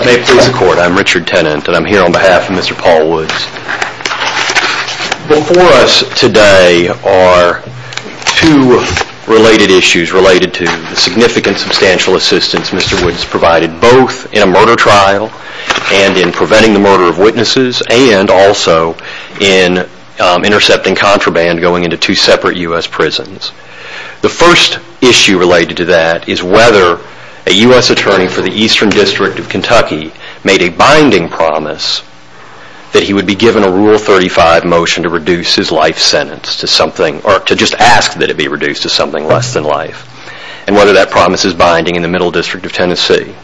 May it please the court, I am Richard Tennant and I am here on behalf of Mr. Paul Woods. Before us today are two related issues related to the significant substantial assistance Mr. Woods provided both in a murder trial and in preventing the murder of witnesses and also in intercepting contraband going into two separate U.S. prisons. The first issue related to that is whether a U.S. attorney for the Eastern District of Tennessee was given a Rule 35 motion to reduce his life sentence to something or to just ask that it be reduced to something less than life and whether that promise is binding in the Middle District of Tennessee.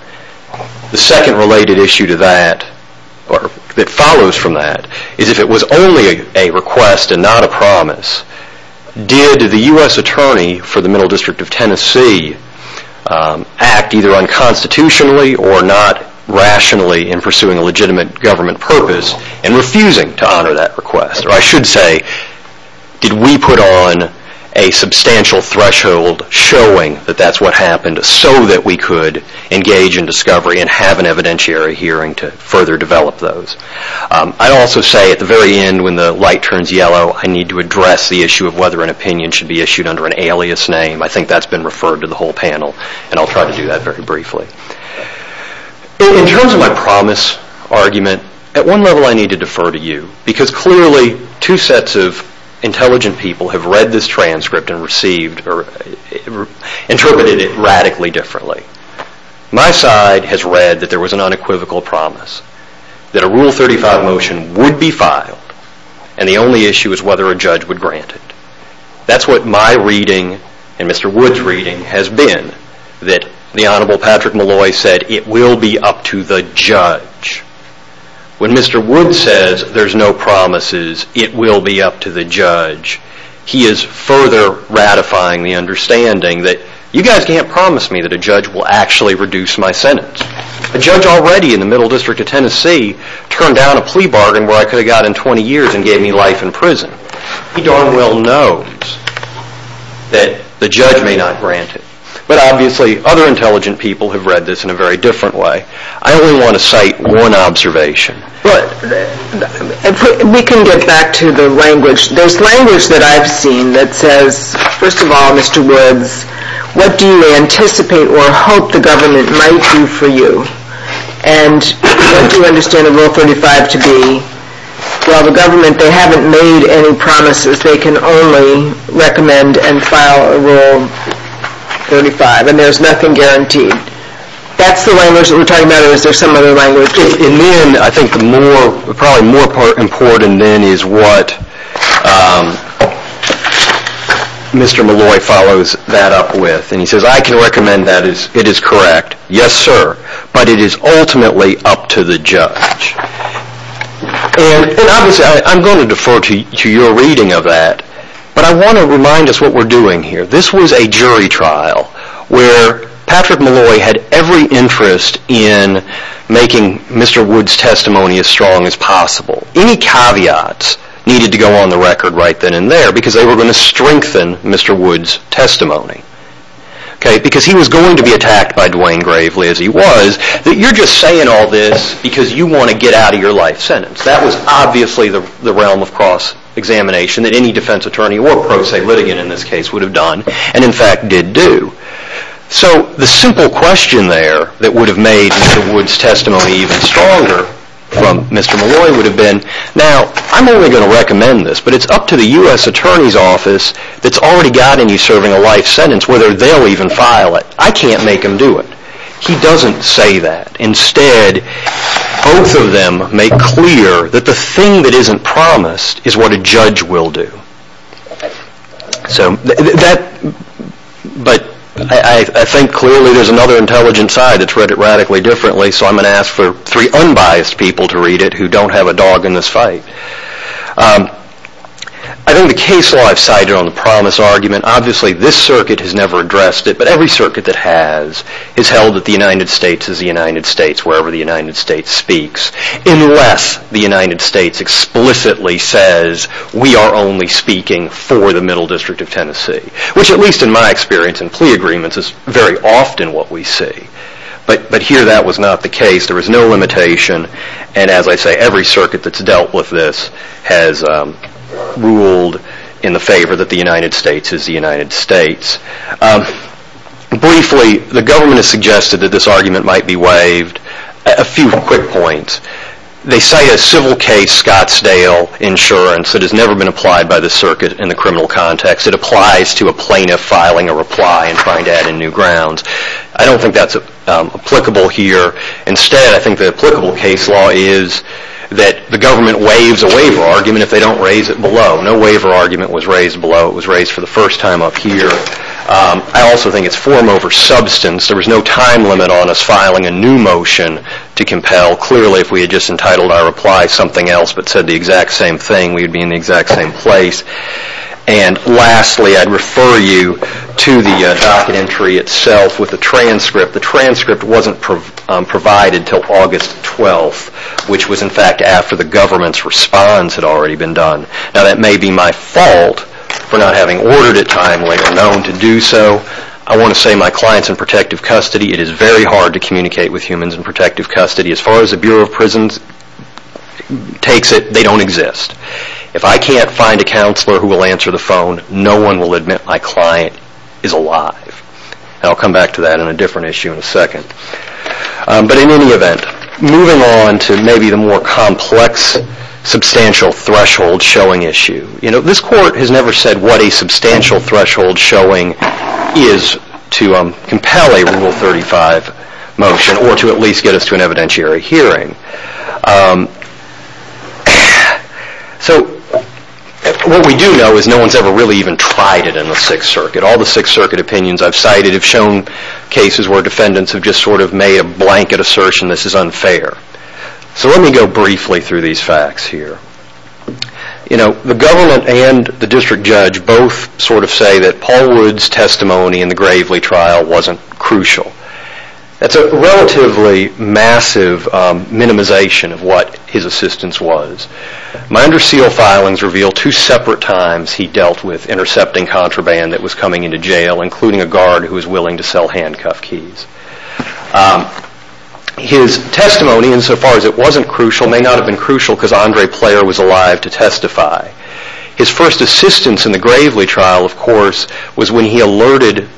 The second related issue to that or that follows from that is if it was only a request and not a promise, did the U.S. attorney for the Middle District of Tennessee act either unconstitutionally or not rationally in pursuing a legitimate government purpose in refusing to honor that request or I should say did we put on a substantial threshold showing that that's what happened so that we could engage in discovery and have an evidentiary hearing to further develop those. I also say at the very end when the light turns yellow I need to address the issue of whether an opinion should be issued under an alias name. I think that's been referred to the whole panel and I'll try to do that very briefly. In terms of my promise argument, at one level I need to defer to you because clearly two sets of intelligent people have read this transcript and interpreted it radically differently. My side has read that there was an unequivocal promise that a Rule 35 motion would be filed and the only issue is whether a judge would grant it. That's what my reading and Mr. Wood's reading has been that the Honorable Patrick Malloy said it will be up to the judge. When Mr. Wood says there's no promises, it will be up to the judge, he is further ratifying the understanding that you guys can't promise me that a judge will actually reduce my sentence. A judge already in the Middle District of Tennessee turned down a plea bargain where I could have gotten 20 years and gave me life in prison. He darn well knows that the judge may not grant it. But obviously other intelligent people have read this in a very different way. I only want to cite one observation. We can get back to the language. There's language that I've seen that says, first of all, Mr. Woods, what do you anticipate or hope the government might do for you? And what do you understand a Rule 35 to be? Well, the government, they haven't made any promises. They can only recommend and file a Rule 35 and there's nothing guaranteed. That's the language that we're talking about or is there some other language? In the end, I think probably more important then is what Mr. Malloy follows that up with and he says, I can recommend that it is correct. Yes, sir. But it is ultimately up to the judge. And obviously, I'm going to defer to your reading of that. But I want to remind us what we're doing here. This was a jury trial where Patrick Malloy had every interest in making Mr. Woods' testimony as strong as possible. Any caveats needed to go on the record right then and there because they were going to strengthen Mr. Woods' testimony. Because he was going to be attacked by Dwayne Gravely as he was. You're just saying all this because you want to get out of your life sentence. That was obviously the realm of cross-examination that any defense attorney or pro se litigant in this case would have done and in fact did do. So the simple question there that would have made Mr. Woods' testimony even stronger from Mr. Malloy would have been, now I'm only going to recommend this, but it's up to the U.S. Attorney's Office that's already got in you serving a life sentence whether they'll even file it. I can't make them do it. He doesn't say that. Instead, both of them make clear that the thing that isn't promised is what a judge will do. But I think clearly there's another intelligent side that's read it radically differently, so I'm going to ask for three unbiased people to read it who don't have a dog in this fight. I think the case law I've cited on the promise argument, obviously this circuit has never addressed it, but every circuit that has has held that the United States is the United States wherever the United States speaks unless the United States explicitly says we are only speaking for the Middle District of Tennessee, which at least in my experience in plea agreements is very often what we see. But here that was not the case. There was no limitation, and as I say, every circuit that's dealt with this has ruled in the favor that the United States is the United States. Briefly, the government has suggested that this argument might be waived. A few quick points. They cite a civil case Scottsdale Insurance that has never been applied by the circuit in the criminal context. It applies to a plaintiff filing a reply and trying to add in new grounds. I don't think that's applicable here. Instead, I think the applicable case law is that the government waives a waiver argument if they don't raise it below. No waiver argument was raised below. It was raised for the first time up here. I also think it's form over substance. There was no time limit on us filing a new motion to compel. Clearly, if we had just entitled our reply something else but said the exact same thing, we would be in the exact same place. Lastly, I'd refer you to the docket entry itself with the transcript. The transcript wasn't provided until August 12th, which was in fact after the government's response had already been done. That may be my fault for not having ordered it timely or known to do so. I want to say my clients in protective custody, it is very hard to communicate with humans in protective custody. As far as the Bureau of Prisons takes it, they don't exist. If I can't find a counselor who will answer the phone, no one will admit my client is alive. I'll come back to that in a different issue in a second. In any event, moving on to maybe the more complex substantial threshold showing issue. This court has never said what a substantial threshold showing is to compel a Rule 35 motion or to at least get us to an evidentiary hearing. What we do know is no one has ever really even tried it in the Sixth Circuit. All the Sixth Circuit opinions I've cited have shown cases where defendants have just sort of made a blanket assertion this is unfair. Let me go briefly through these facts here. The government and the district judge both sort of say that Paul Rudd's testimony in the Gravely trial wasn't crucial. That's a relatively massive minimization of what his assistance was. My under seal filings reveal two separate times he dealt with intercepting contraband that was coming into jail, including a guard who was willing to sell handcuff keys. His testimony, insofar as it wasn't crucial, may not have been crucial because Andre Player was alive to testify. His first assistance in the Gravely trial, of course, was when he alerted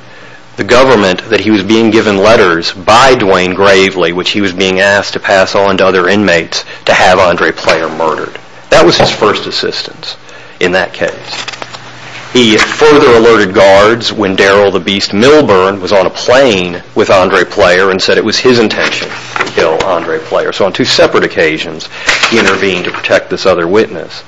the government that he was being given letters by Duane Gravely, which he was being asked to pass on to other inmates to have Andre Player murdered. That was his first assistance in that case. He further alerted guards when Darryl the Beast Milburn was on a plane with Andre Player and said it was his intention to kill Andre Player. So on two separate occasions he intervened to protect this other witness.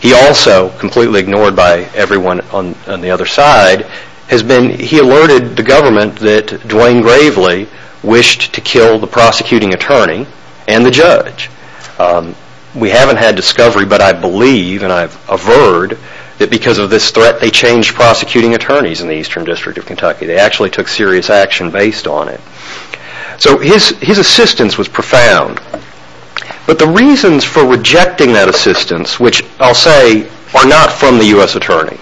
He also, completely ignored by everyone on the other side, he alerted the government that Duane Gravely wished to kill the prosecuting attorney and the judge. We haven't had discovery, but I believe and I've averred that because of this threat they changed prosecuting attorneys in the Eastern District of Kentucky. They actually took serious action based on it. So his assistance was profound. But the reasons for rejecting that assistance, which I'll say are not from the U.S. Attorney.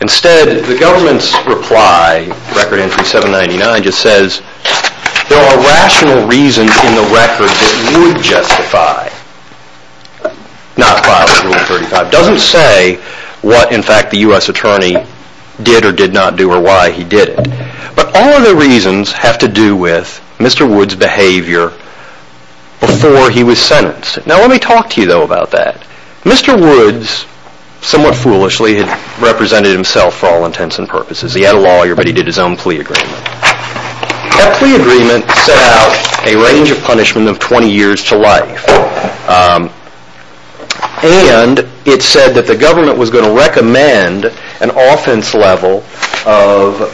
Instead, the government's reply, Record Entry 799, just says there are rational reasons in the record that would justify not filing Rule 35. It doesn't say what, in fact, the U.S. Attorney did or did not do or why he did it. But all of the reasons have to do with Mr. Woods' behavior before he was sentenced. Now let me talk to you, though, about that. Mr. Woods, somewhat foolishly, had represented himself for all intents and purposes. He had a lawyer, but he did his own plea agreement. That plea agreement set out a range of punishment of 20 years to life. And it said that the government was going to recommend an offense level of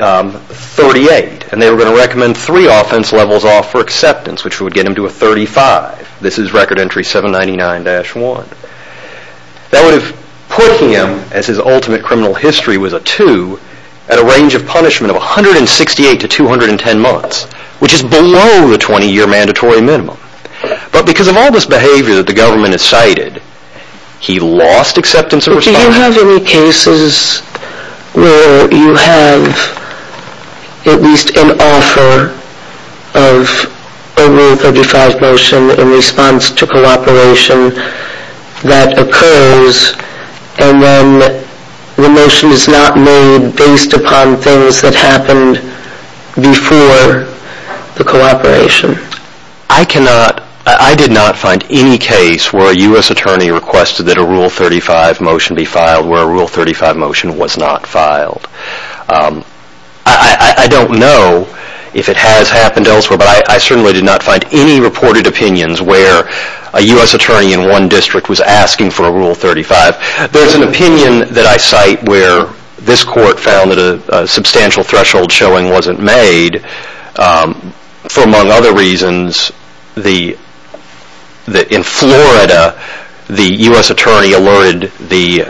38. And they were going to recommend three offense levels off for acceptance, which would get him to a 35. This is Record Entry 799-1. That would have put him, as his ultimate criminal history was a 2, at a range of punishment of 168 to 210 months, which is below the 20-year mandatory minimum. But because of all this behavior that the government has cited, he lost acceptance of responsibility. Do you have any cases where you have at least an offer of a Rule 35 motion in response to cooperation that occurs and then the motion is not made based upon things that happened before the cooperation? I did not find any case where a U.S. attorney requested that a Rule 35 motion be filed where a Rule 35 motion was not filed. I don't know if it has happened elsewhere, but I certainly did not find any reported opinions where a U.S. attorney in one district was asking for a Rule 35. There's an opinion that I cite where this court found that a substantial threshold showing wasn't made for, among other reasons, that in Florida, the U.S. attorney alerted the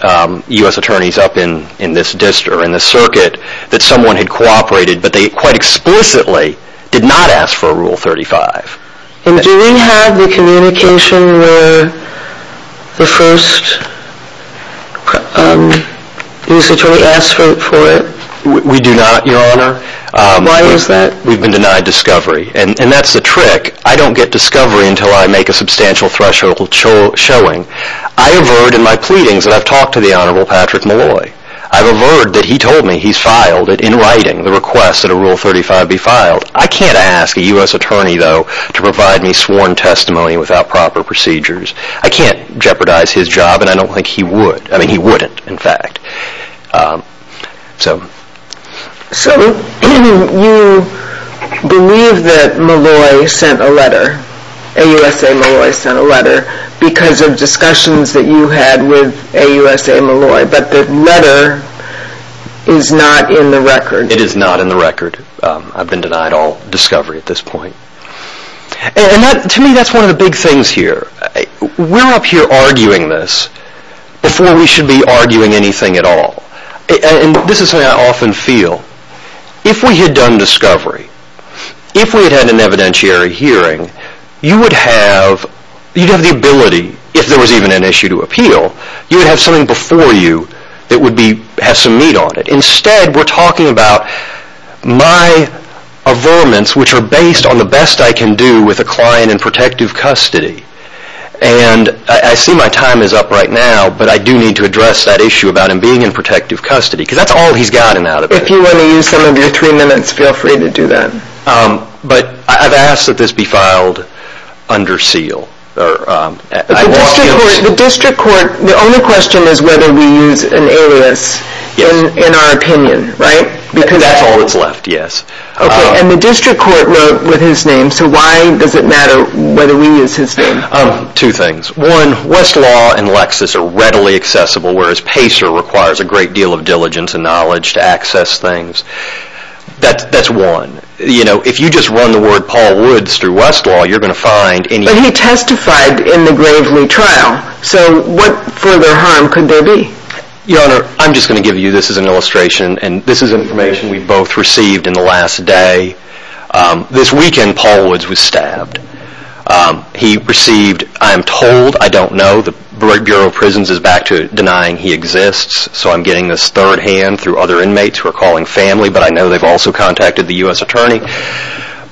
U.S. attorneys up in this district, in this circuit, that someone had cooperated, but they quite explicitly did not ask for a Rule 35. And do we have the communication where the first U.S. attorney asked for it? We do not, Your Honor. Why is that? We've been denied discovery, and that's the trick. I don't get discovery until I make a substantial threshold showing. I avert in my pleadings that I've talked to the Honorable Patrick Malloy. I avert that he told me he's filed it in writing, the request that a Rule 35 be filed. I can't ask a U.S. attorney, though, to provide me sworn testimony without proper procedures. I can't jeopardize his job, and I don't think he would. I mean, he wouldn't, in fact. So you believe that Malloy sent a letter, AUSA Malloy sent a letter, because of discussions that you had with AUSA Malloy, but the letter is not in the record. It is not in the record. I've been denied all discovery at this point. And to me, that's one of the big things here. We're up here arguing this before we should be arguing anything at all. And this is something I often feel. If we had done discovery, if we had had an evidentiary hearing, you would have the ability, if there was even an issue to appeal, you would have something before you that would have some meat on it. Instead, we're talking about my averments, which are based on the best I can do with a client in protective custody. And I see my time is up right now, but I do need to address that issue about him being in protective custody, because that's all he's gotten out of it. If you want to use some of your three minutes, feel free to do that. But I've asked that this be filed under seal. The only question is whether we use an alias in our opinion, right? That's all that's left, yes. And the district court wrote with his name, so why does it matter whether we use his name? Two things. One, Westlaw and Lexis are readily accessible, whereas Pacer requires a great deal of diligence and knowledge to access things. That's one. If you just run the word Paul Woods through Westlaw, you're going to find anything. But he testified in the gravely trial, so what further harm could there be? Your Honor, I'm just going to give you this as an illustration, and this is information we both received in the last day. This weekend, Paul Woods was stabbed. He received, I am told, I don't know, the Bureau of Prisons is back to denying he exists, so I'm getting this third hand through other inmates who are calling family, but I know they've also contacted the U.S. Attorney.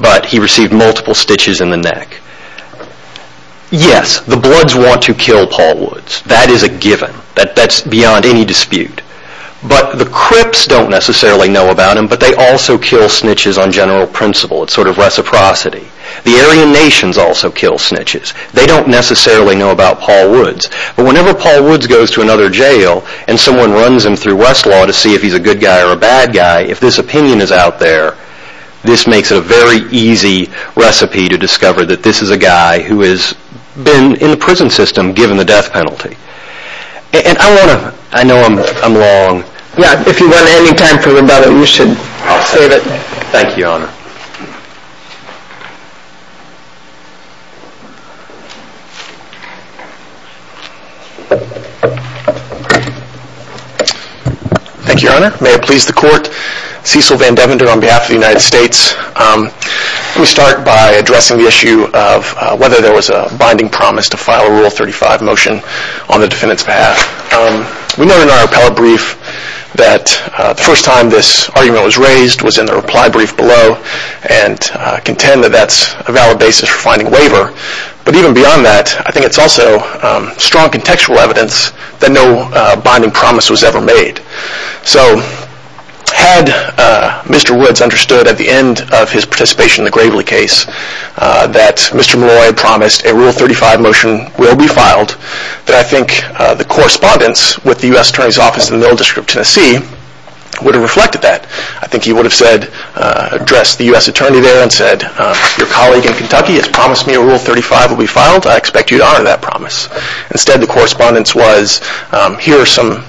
But he received multiple stitches in the neck. Yes, the Bloods want to kill Paul Woods. That is a given. That's beyond any dispute. But the Crips don't necessarily know about him, but they also kill snitches on general principle. It's sort of reciprocity. The Aryan Nations also kill snitches. They don't necessarily know about Paul Woods, but whenever Paul Woods goes to another jail and someone runs him through Westlaw to see if he's a good guy or a bad guy, if this opinion is out there, this makes it a very easy recipe to discover that this is a guy who has been in the prison system given the death penalty. And I want to, I know I'm long. Yeah, if you want any time for another, you should save it. Thank you, Your Honor. Thank you, Your Honor. May it please the Court. Cecil VanDevender on behalf of the United States. Let me start by addressing the issue of whether there was a binding promise to file a Rule 35 motion on the defendant's behalf. We know in our appellate brief that the first time this argument was raised was in the reply brief below, and contend that that's a valid basis for finding waiver. But even beyond that, I think it's also strong contextual evidence that no binding promise was ever made. So had Mr. Woods understood at the end of his participation in the Gravely case that Mr. Malloy had promised a Rule 35 motion will be filed, that I think the correspondence with the U.S. Attorney's Office in the Middle District of Tennessee would have reflected that. I think he would have addressed the U.S. Attorney there and said, your colleague in Kentucky has promised me a Rule 35 will be filed. I expect you to honor that promise. Instead, the correspondence was, here are some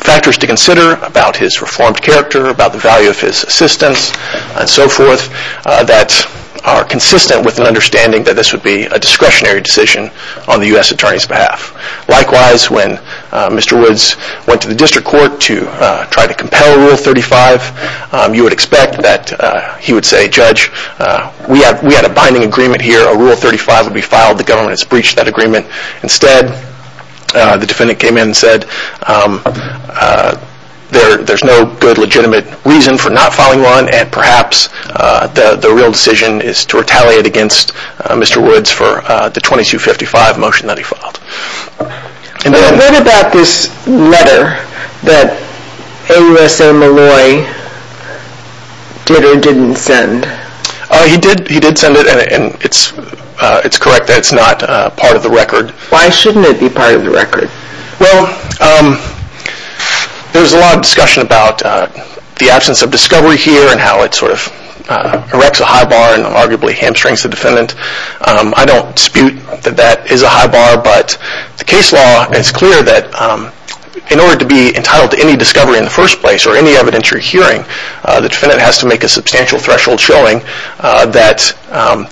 factors to consider about his reformed character, about the value of his assistance, and so forth, that are consistent with an understanding that this would be a discretionary decision on the U.S. Attorney's behalf. Likewise, when Mr. Woods went to the District Court to try to compel Rule 35, you would expect that he would say, Judge, we had a binding agreement here. A Rule 35 would be filed. The government has breached that agreement. Instead, the defendant came in and said, there's no good legitimate reason for not filing one, and perhaps the real decision is to retaliate against Mr. Woods for the 2255 motion that he filed. What about this letter that AUSA Malloy did or didn't send? He did send it, and it's correct that it's not part of the record. Why shouldn't it be part of the record? Well, there's a lot of discussion about the absence of discovery here and how it sort of erects a high bar and arguably hamstrings the defendant. I don't dispute that that is a high bar, but the case law is clear that in order to be entitled to any discovery in the first place or any evidence you're hearing, the defendant has to make a substantial threshold showing that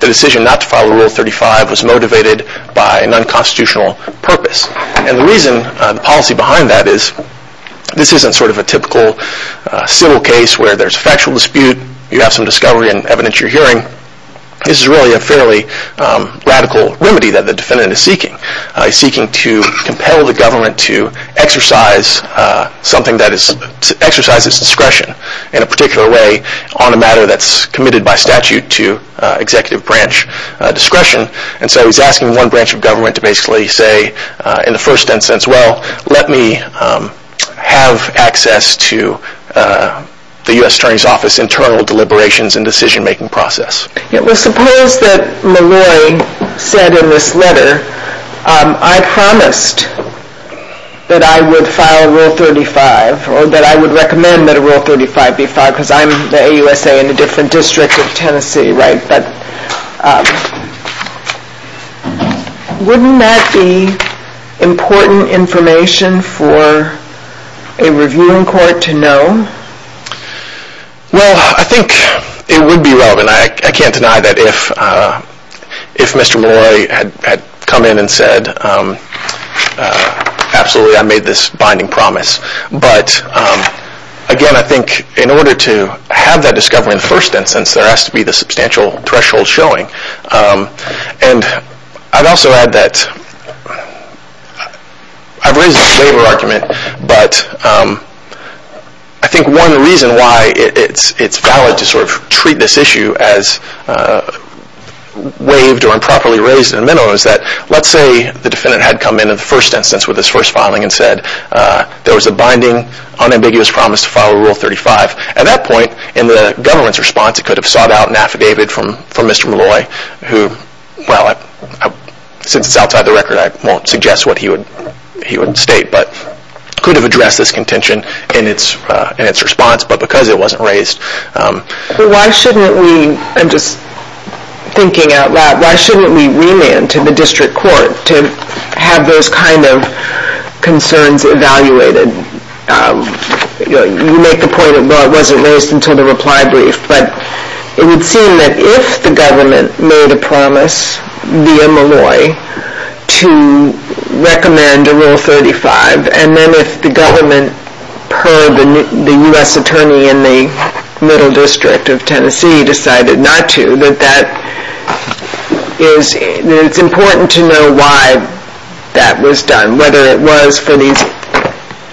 the decision not to file Rule 35 was motivated by an unconstitutional purpose. And the reason, the policy behind that is, this isn't sort of a typical civil case where there's a factual dispute, you have some discovery and evidence you're hearing. This is really a fairly radical remedy that the defendant is seeking. He's seeking to compel the government to exercise something that is, exercise its discretion in a particular way on a matter that's committed by statute to executive branch discretion. And so he's asking one branch of government to basically say, in the first instance, well, let me have access to the U.S. Attorney's Office internal deliberations and decision-making process. Well, suppose that LeRoy said in this letter, I promised that I would file Rule 35, or that I would recommend that a Rule 35 be filed, because I'm the AUSA in a different district of Tennessee, right? But wouldn't that be important information for a reviewing court to know? Well, I think it would be relevant. I can't deny that if Mr. LeRoy had come in and said, absolutely, I made this binding promise. But again, I think in order to have that discovery in the first instance, there has to be the substantial threshold showing. And I'd also add that I've raised this later argument, but I think one reason why it's valid to sort of treat this issue as waived or improperly raised in the memo is that, let's say the defendant had come in in the first instance with his first filing and said there was a binding, unambiguous promise to file Rule 35. At that point, in the government's response, it could have sought out an affidavit from Mr. LeRoy, who, well, since it's outside the record, I won't suggest what he would state, but could have addressed this contention in its response, but because it wasn't raised. Why shouldn't we, I'm just thinking out loud, why shouldn't we remand to the district court to have those kind of concerns evaluated? You make the point, well, it wasn't raised until the reply brief, but it would seem that if the government made a promise via Molloy to recommend a Rule 35, and then if the government purred the U.S. attorney in the middle district of Tennessee decided not to, that it's important to know why that was done, whether it was for these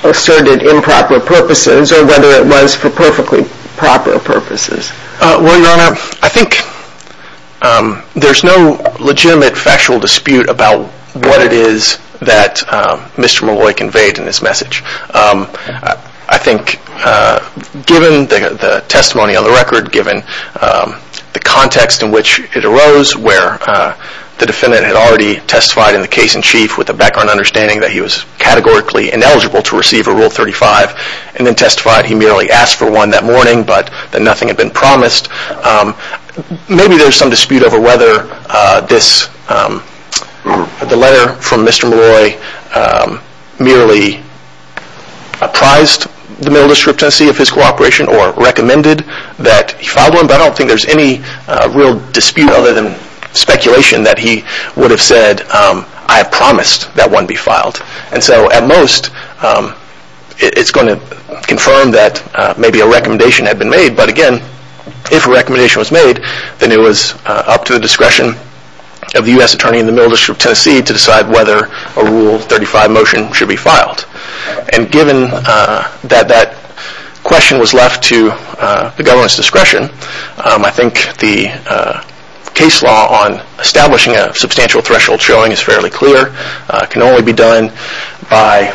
asserted improper purposes or whether it was for perfectly proper purposes. Well, Your Honor, I think there's no legitimate factual dispute about what it is that Mr. Molloy conveyed in this message. I think given the testimony on the record, given the context in which it arose, where the defendant had already testified in the case in chief with a background understanding that he was categorically ineligible to receive a Rule 35, and then testified he merely asked for one that morning, but that nothing had been promised, maybe there's some dispute over whether the letter from Mr. Molloy merely apprised the middle district of Tennessee of his cooperation or recommended that he file one, but I don't think there's any real dispute other than speculation that he would have said, I have promised that one be filed. And so at most, it's going to confirm that maybe a recommendation had been made, but again, if a recommendation was made, then it was up to the discretion of the U.S. attorney in the middle district of Tennessee to decide whether a Rule 35 motion should be filed. And given that that question was left to the government's discretion, I think the case law on establishing a substantial threshold showing is fairly clear, can only be done by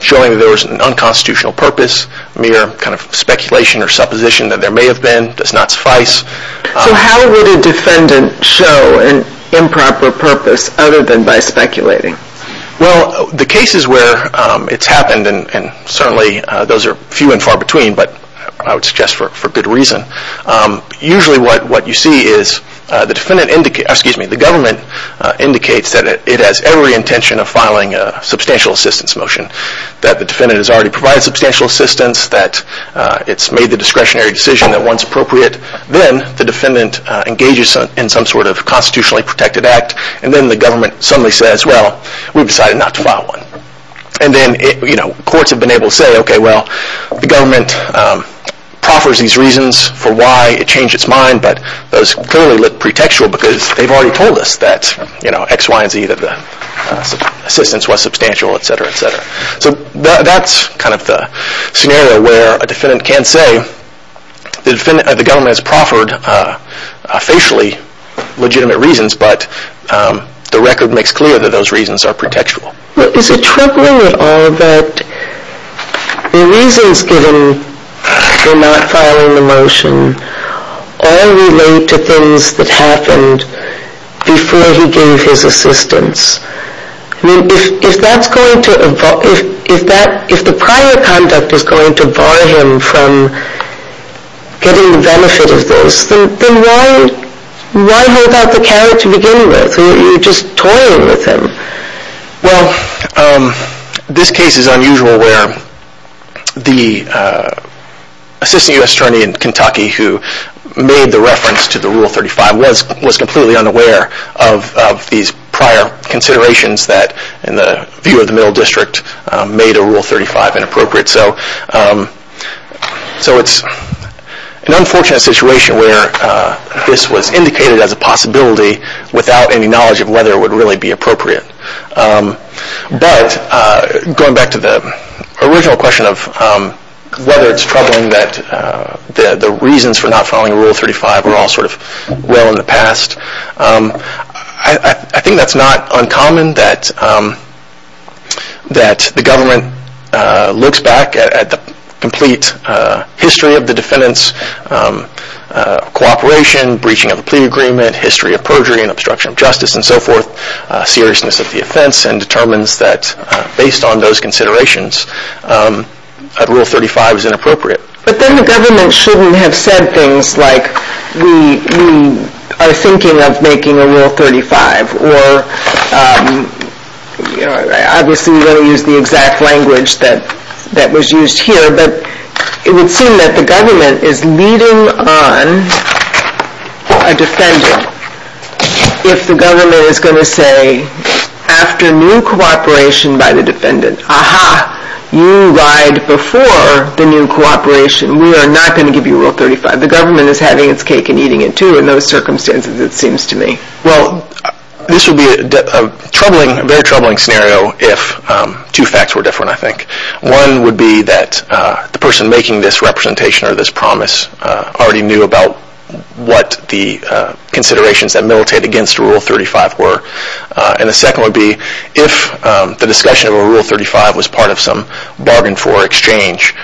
showing that there was an unconstitutional purpose, mere kind of speculation or supposition that there may have been, does not suffice. So how would a defendant show an improper purpose other than by speculating? Well, the cases where it's happened, and certainly those are few and far between, but I would suggest for good reason, usually what you see is the government indicates that it has every intention of filing a substantial assistance motion, that the defendant has already provided substantial assistance, that it's made the discretionary decision that one's appropriate, then the defendant engages in some sort of constitutionally protected act, and then the government suddenly says, well, we've decided not to file one. And then courts have been able to say, okay, well, the government proffers these reasons for why it changed its mind, but those clearly look pretextual because they've already told us that X, Y, and Z, that the assistance was substantial, etc., etc. So that's kind of the scenario where a defendant can say the government has proffered facially legitimate reasons, but the record makes clear that those reasons are pretextual. Is it troubling at all that the reasons given for not filing the motion all relate to things that happened before he gave his assistance? I mean, if the prior conduct is going to bar him from getting the benefit of this, then why hold out the carrot to begin with? You're just toying with him. Well, this case is unusual where the Assistant U.S. Attorney in Kentucky who made the reference to the Rule 35 was completely unaware of these prior considerations that, in the view of the Middle District, made a Rule 35 inappropriate. So it's an unfortunate situation where this was indicated as a possibility without any knowledge of whether it would really be appropriate. But going back to the original question of whether it's troubling that the reasons for not filing Rule 35 were all sort of well in the past, I think that's not uncommon that the government looks back at the complete history of the defendant's cooperation, breaching of the plea agreement, history of perjury and obstruction of justice, and so forth, seriousness of the offense, and determines that, based on those considerations, Rule 35 is inappropriate. But then the government shouldn't have said things like, we are thinking of making a Rule 35, or obviously we don't use the exact language that was used here, but it would seem that the government is leading on a defendant if the government is going to say, after new cooperation by the defendant, aha, you lied before the new cooperation, we are not going to give you a Rule 35. The government is having its cake and eating it, too, in those circumstances, it seems to me. Well, this would be a very troubling scenario if two facts were different, I think. One would be that the person making this representation or this promise already knew about what the considerations that militated against Rule 35 were. And the second would be if the discussion of a Rule 35 was part of some bargain for exchange.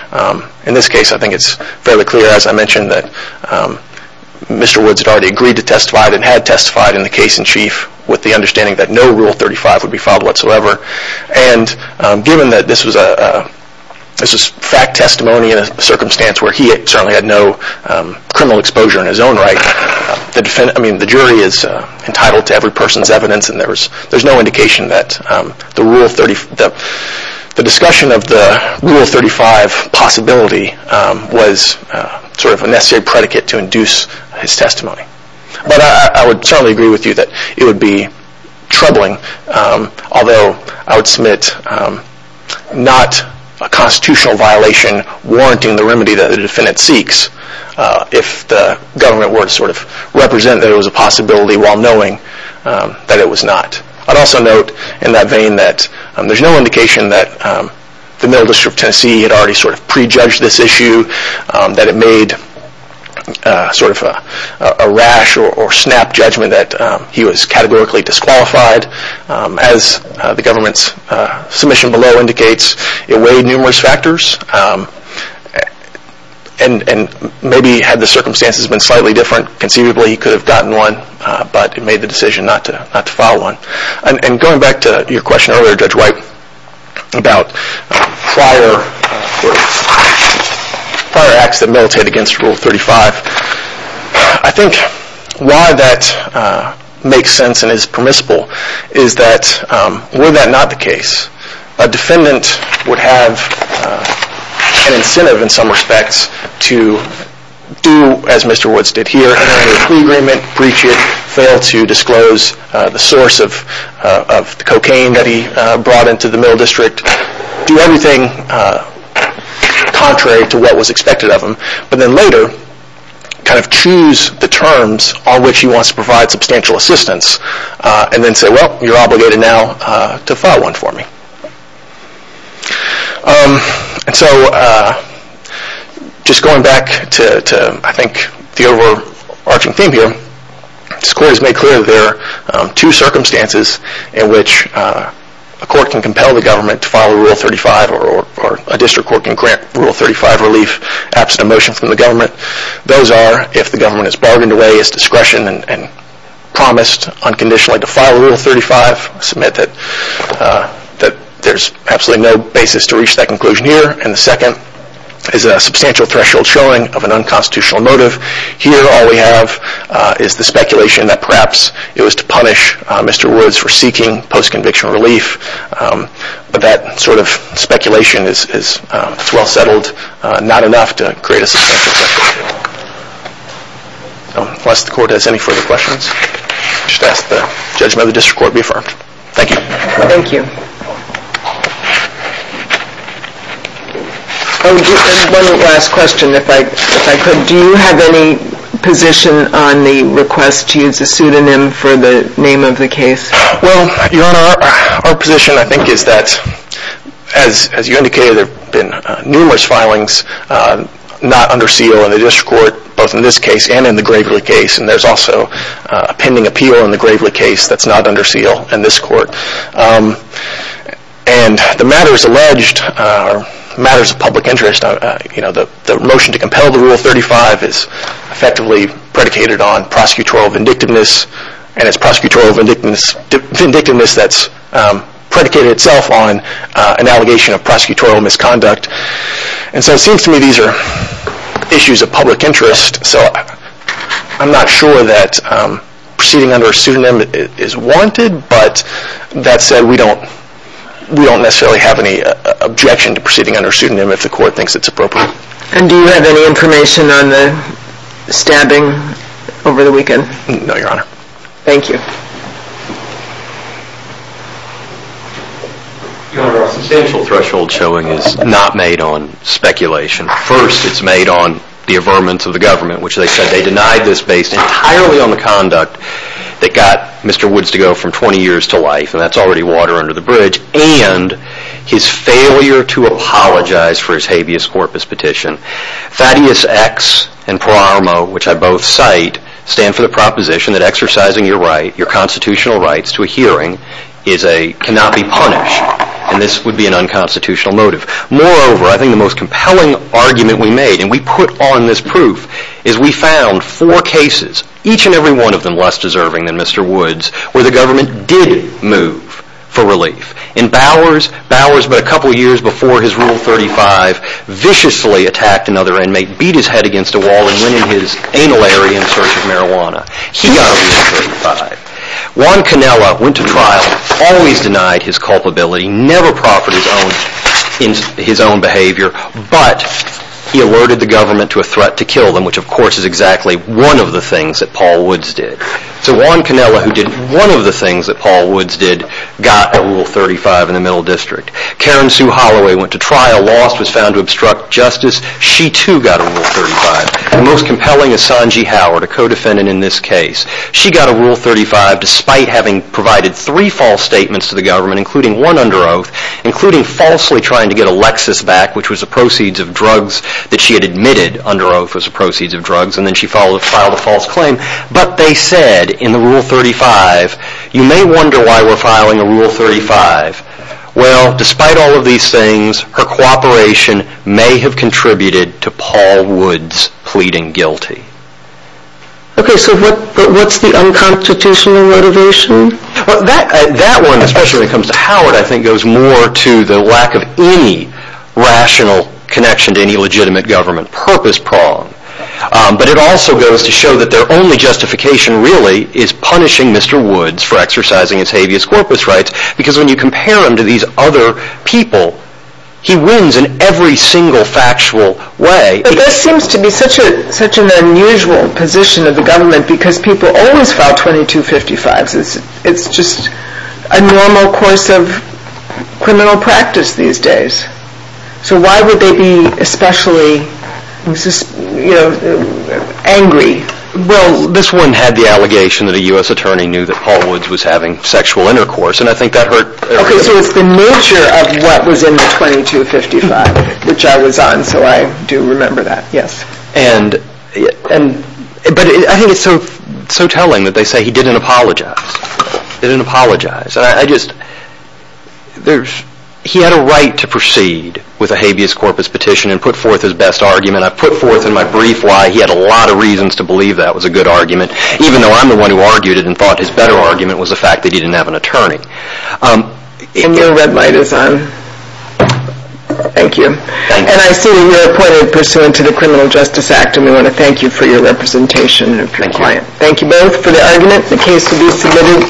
In this case, I think it's fairly clear, as I mentioned, that Mr. Woods had already agreed to testify, and had testified in the case in chief, with the understanding that no Rule 35 would be filed whatsoever. And given that this was fact testimony in a circumstance where he certainly had no criminal exposure in his own right, the jury is entitled to every person's evidence, and there's no indication that the discussion of the Rule 35 possibility was sort of a necessary predicate to induce his testimony. But I would certainly agree with you that it would be troubling, although I would submit not a constitutional violation warranting the remedy that the defendant seeks, if the government were to sort of represent that it was a possibility while knowing that it was not. I'd also note in that vein that there's no indication that the Middle District of Tennessee had already sort of prejudged this issue, that it made sort of a rash or snap judgment that he was categorically disqualified. As the government's submission below indicates, it weighed numerous factors, and maybe had the circumstances been slightly different, conceivably he could have gotten one, but it made the decision not to file one. And going back to your question earlier, Judge White, about prior acts that militated against Rule 35, I think why that makes sense and is permissible is that were that not the case, a defendant would have an incentive in some respects to do as Mr. Woods did here, have a plea agreement, breach it, fail to disclose the source of the cocaine that he brought into the Middle District, do everything contrary to what was expected of him, but then later kind of choose the terms on which he wants to provide substantial assistance, and then say, well, you're obligated now to file one for me. And so, just going back to I think the overarching theme here, this Court has made clear that there are two circumstances in which a court can compel the government to file Rule 35, or a district court can grant Rule 35 relief absent a motion from the government. Those are if the government has bargained away its discretion and promised unconditionally to file Rule 35, I submit that there's absolutely no basis to reach that conclusion here, and the second is a substantial threshold showing of an unconstitutional motive. Here, all we have is the speculation that perhaps it was to punish Mr. Woods for seeking post-conviction relief, but that sort of speculation is well settled, not enough to create a substantial threshold. Unless the Court has any further questions, I should ask the judgment of the district court be affirmed. Thank you. Thank you. One last question, if I could. Do you have any position on the request to use a pseudonym for the name of the case? Well, Your Honor, our position I think is that, as you indicated, there have been numerous filings not under seal in the district court, both in this case and in the Gravely case, and there's also a pending appeal in the Gravely case that's not under seal in this court. And the matters alleged are matters of public interest. The motion to compel the Rule 35 is effectively predicated on prosecutorial vindictiveness, and it's prosecutorial vindictiveness that's predicated itself on an allegation of prosecutorial misconduct. And so it seems to me these are issues of public interest, so I'm not sure that proceeding under a pseudonym is warranted, but that said, we don't necessarily have any objection to proceeding under a pseudonym if the Court thinks it's appropriate. And do you have any information on the stabbing over the weekend? No, Your Honor. Thank you. Your Honor, a substantial threshold showing is not made on speculation. First, it's made on the averments of the government, which they said they denied this based entirely on the conduct that got Mr. Woods to go from 20 years to life, and that's already water under the bridge, and his failure to apologize for his habeas corpus petition. Thaddeus X and Pro Armo, which I both cite, stand for the proposition that exercising your right, is a can-not-be-punished, and this would be an unconstitutional motive. Moreover, I think the most compelling argument we made, and we put on this proof, is we found four cases, each and every one of them less deserving than Mr. Woods, where the government did move for relief. In Bowers, Bowers, but a couple of years before his Rule 35, viciously attacked another inmate, beat his head against a wall, and went in his anal area in search of marijuana. He got a Rule 35. Juan Canela went to trial, always denied his culpability, never profited in his own behavior, but he alerted the government to a threat to kill them, which of course is exactly one of the things that Paul Woods did. So Juan Canela, who did one of the things that Paul Woods did, got a Rule 35 in the Middle District. Karen Sue Holloway went to trial, lost, was found to obstruct justice. She too got a Rule 35. The most compelling is Sanji Howard, a co-defendant in this case. She got a Rule 35 despite having provided three false statements to the government, including one under oath, including falsely trying to get Alexis back, which was the proceeds of drugs that she had admitted under oath was the proceeds of drugs, and then she filed a false claim. But they said in the Rule 35, you may wonder why we're filing a Rule 35. Well, despite all of these things, her cooperation may have contributed to Paul Woods pleading guilty. Okay, so what's the unconstitutional motivation? That one, especially when it comes to Howard, I think goes more to the lack of any rational connection to any legitimate government, purpose-pronged. But it also goes to show that their only justification really is punishing Mr. Woods for exercising his habeas corpus rights, because when you compare him to these other people, he wins in every single factual way. But this seems to be such an unusual position of the government because people always file 2255s. It's just a normal course of criminal practice these days. So why would they be especially angry? Well, this one had the allegation that a U.S. attorney knew that Paul Woods was having sexual intercourse, and I think that hurt everybody. Okay, so it's the nature of what was in the 2255, which I was on, so I do remember that, yes. But I think it's so telling that they say he didn't apologize. He didn't apologize. He had a right to proceed with a habeas corpus petition and put forth his best argument. I put forth in my brief why he had a lot of reasons to believe that was a good argument, even though I'm the one who argued it and thought his better argument was the fact that he didn't have an attorney. And your red light is on. Thank you. And I see that you're appointed pursuant to the Criminal Justice Act, and we want to thank you for your representation. Thank you. Thank you both for the argument. The case will be submitted.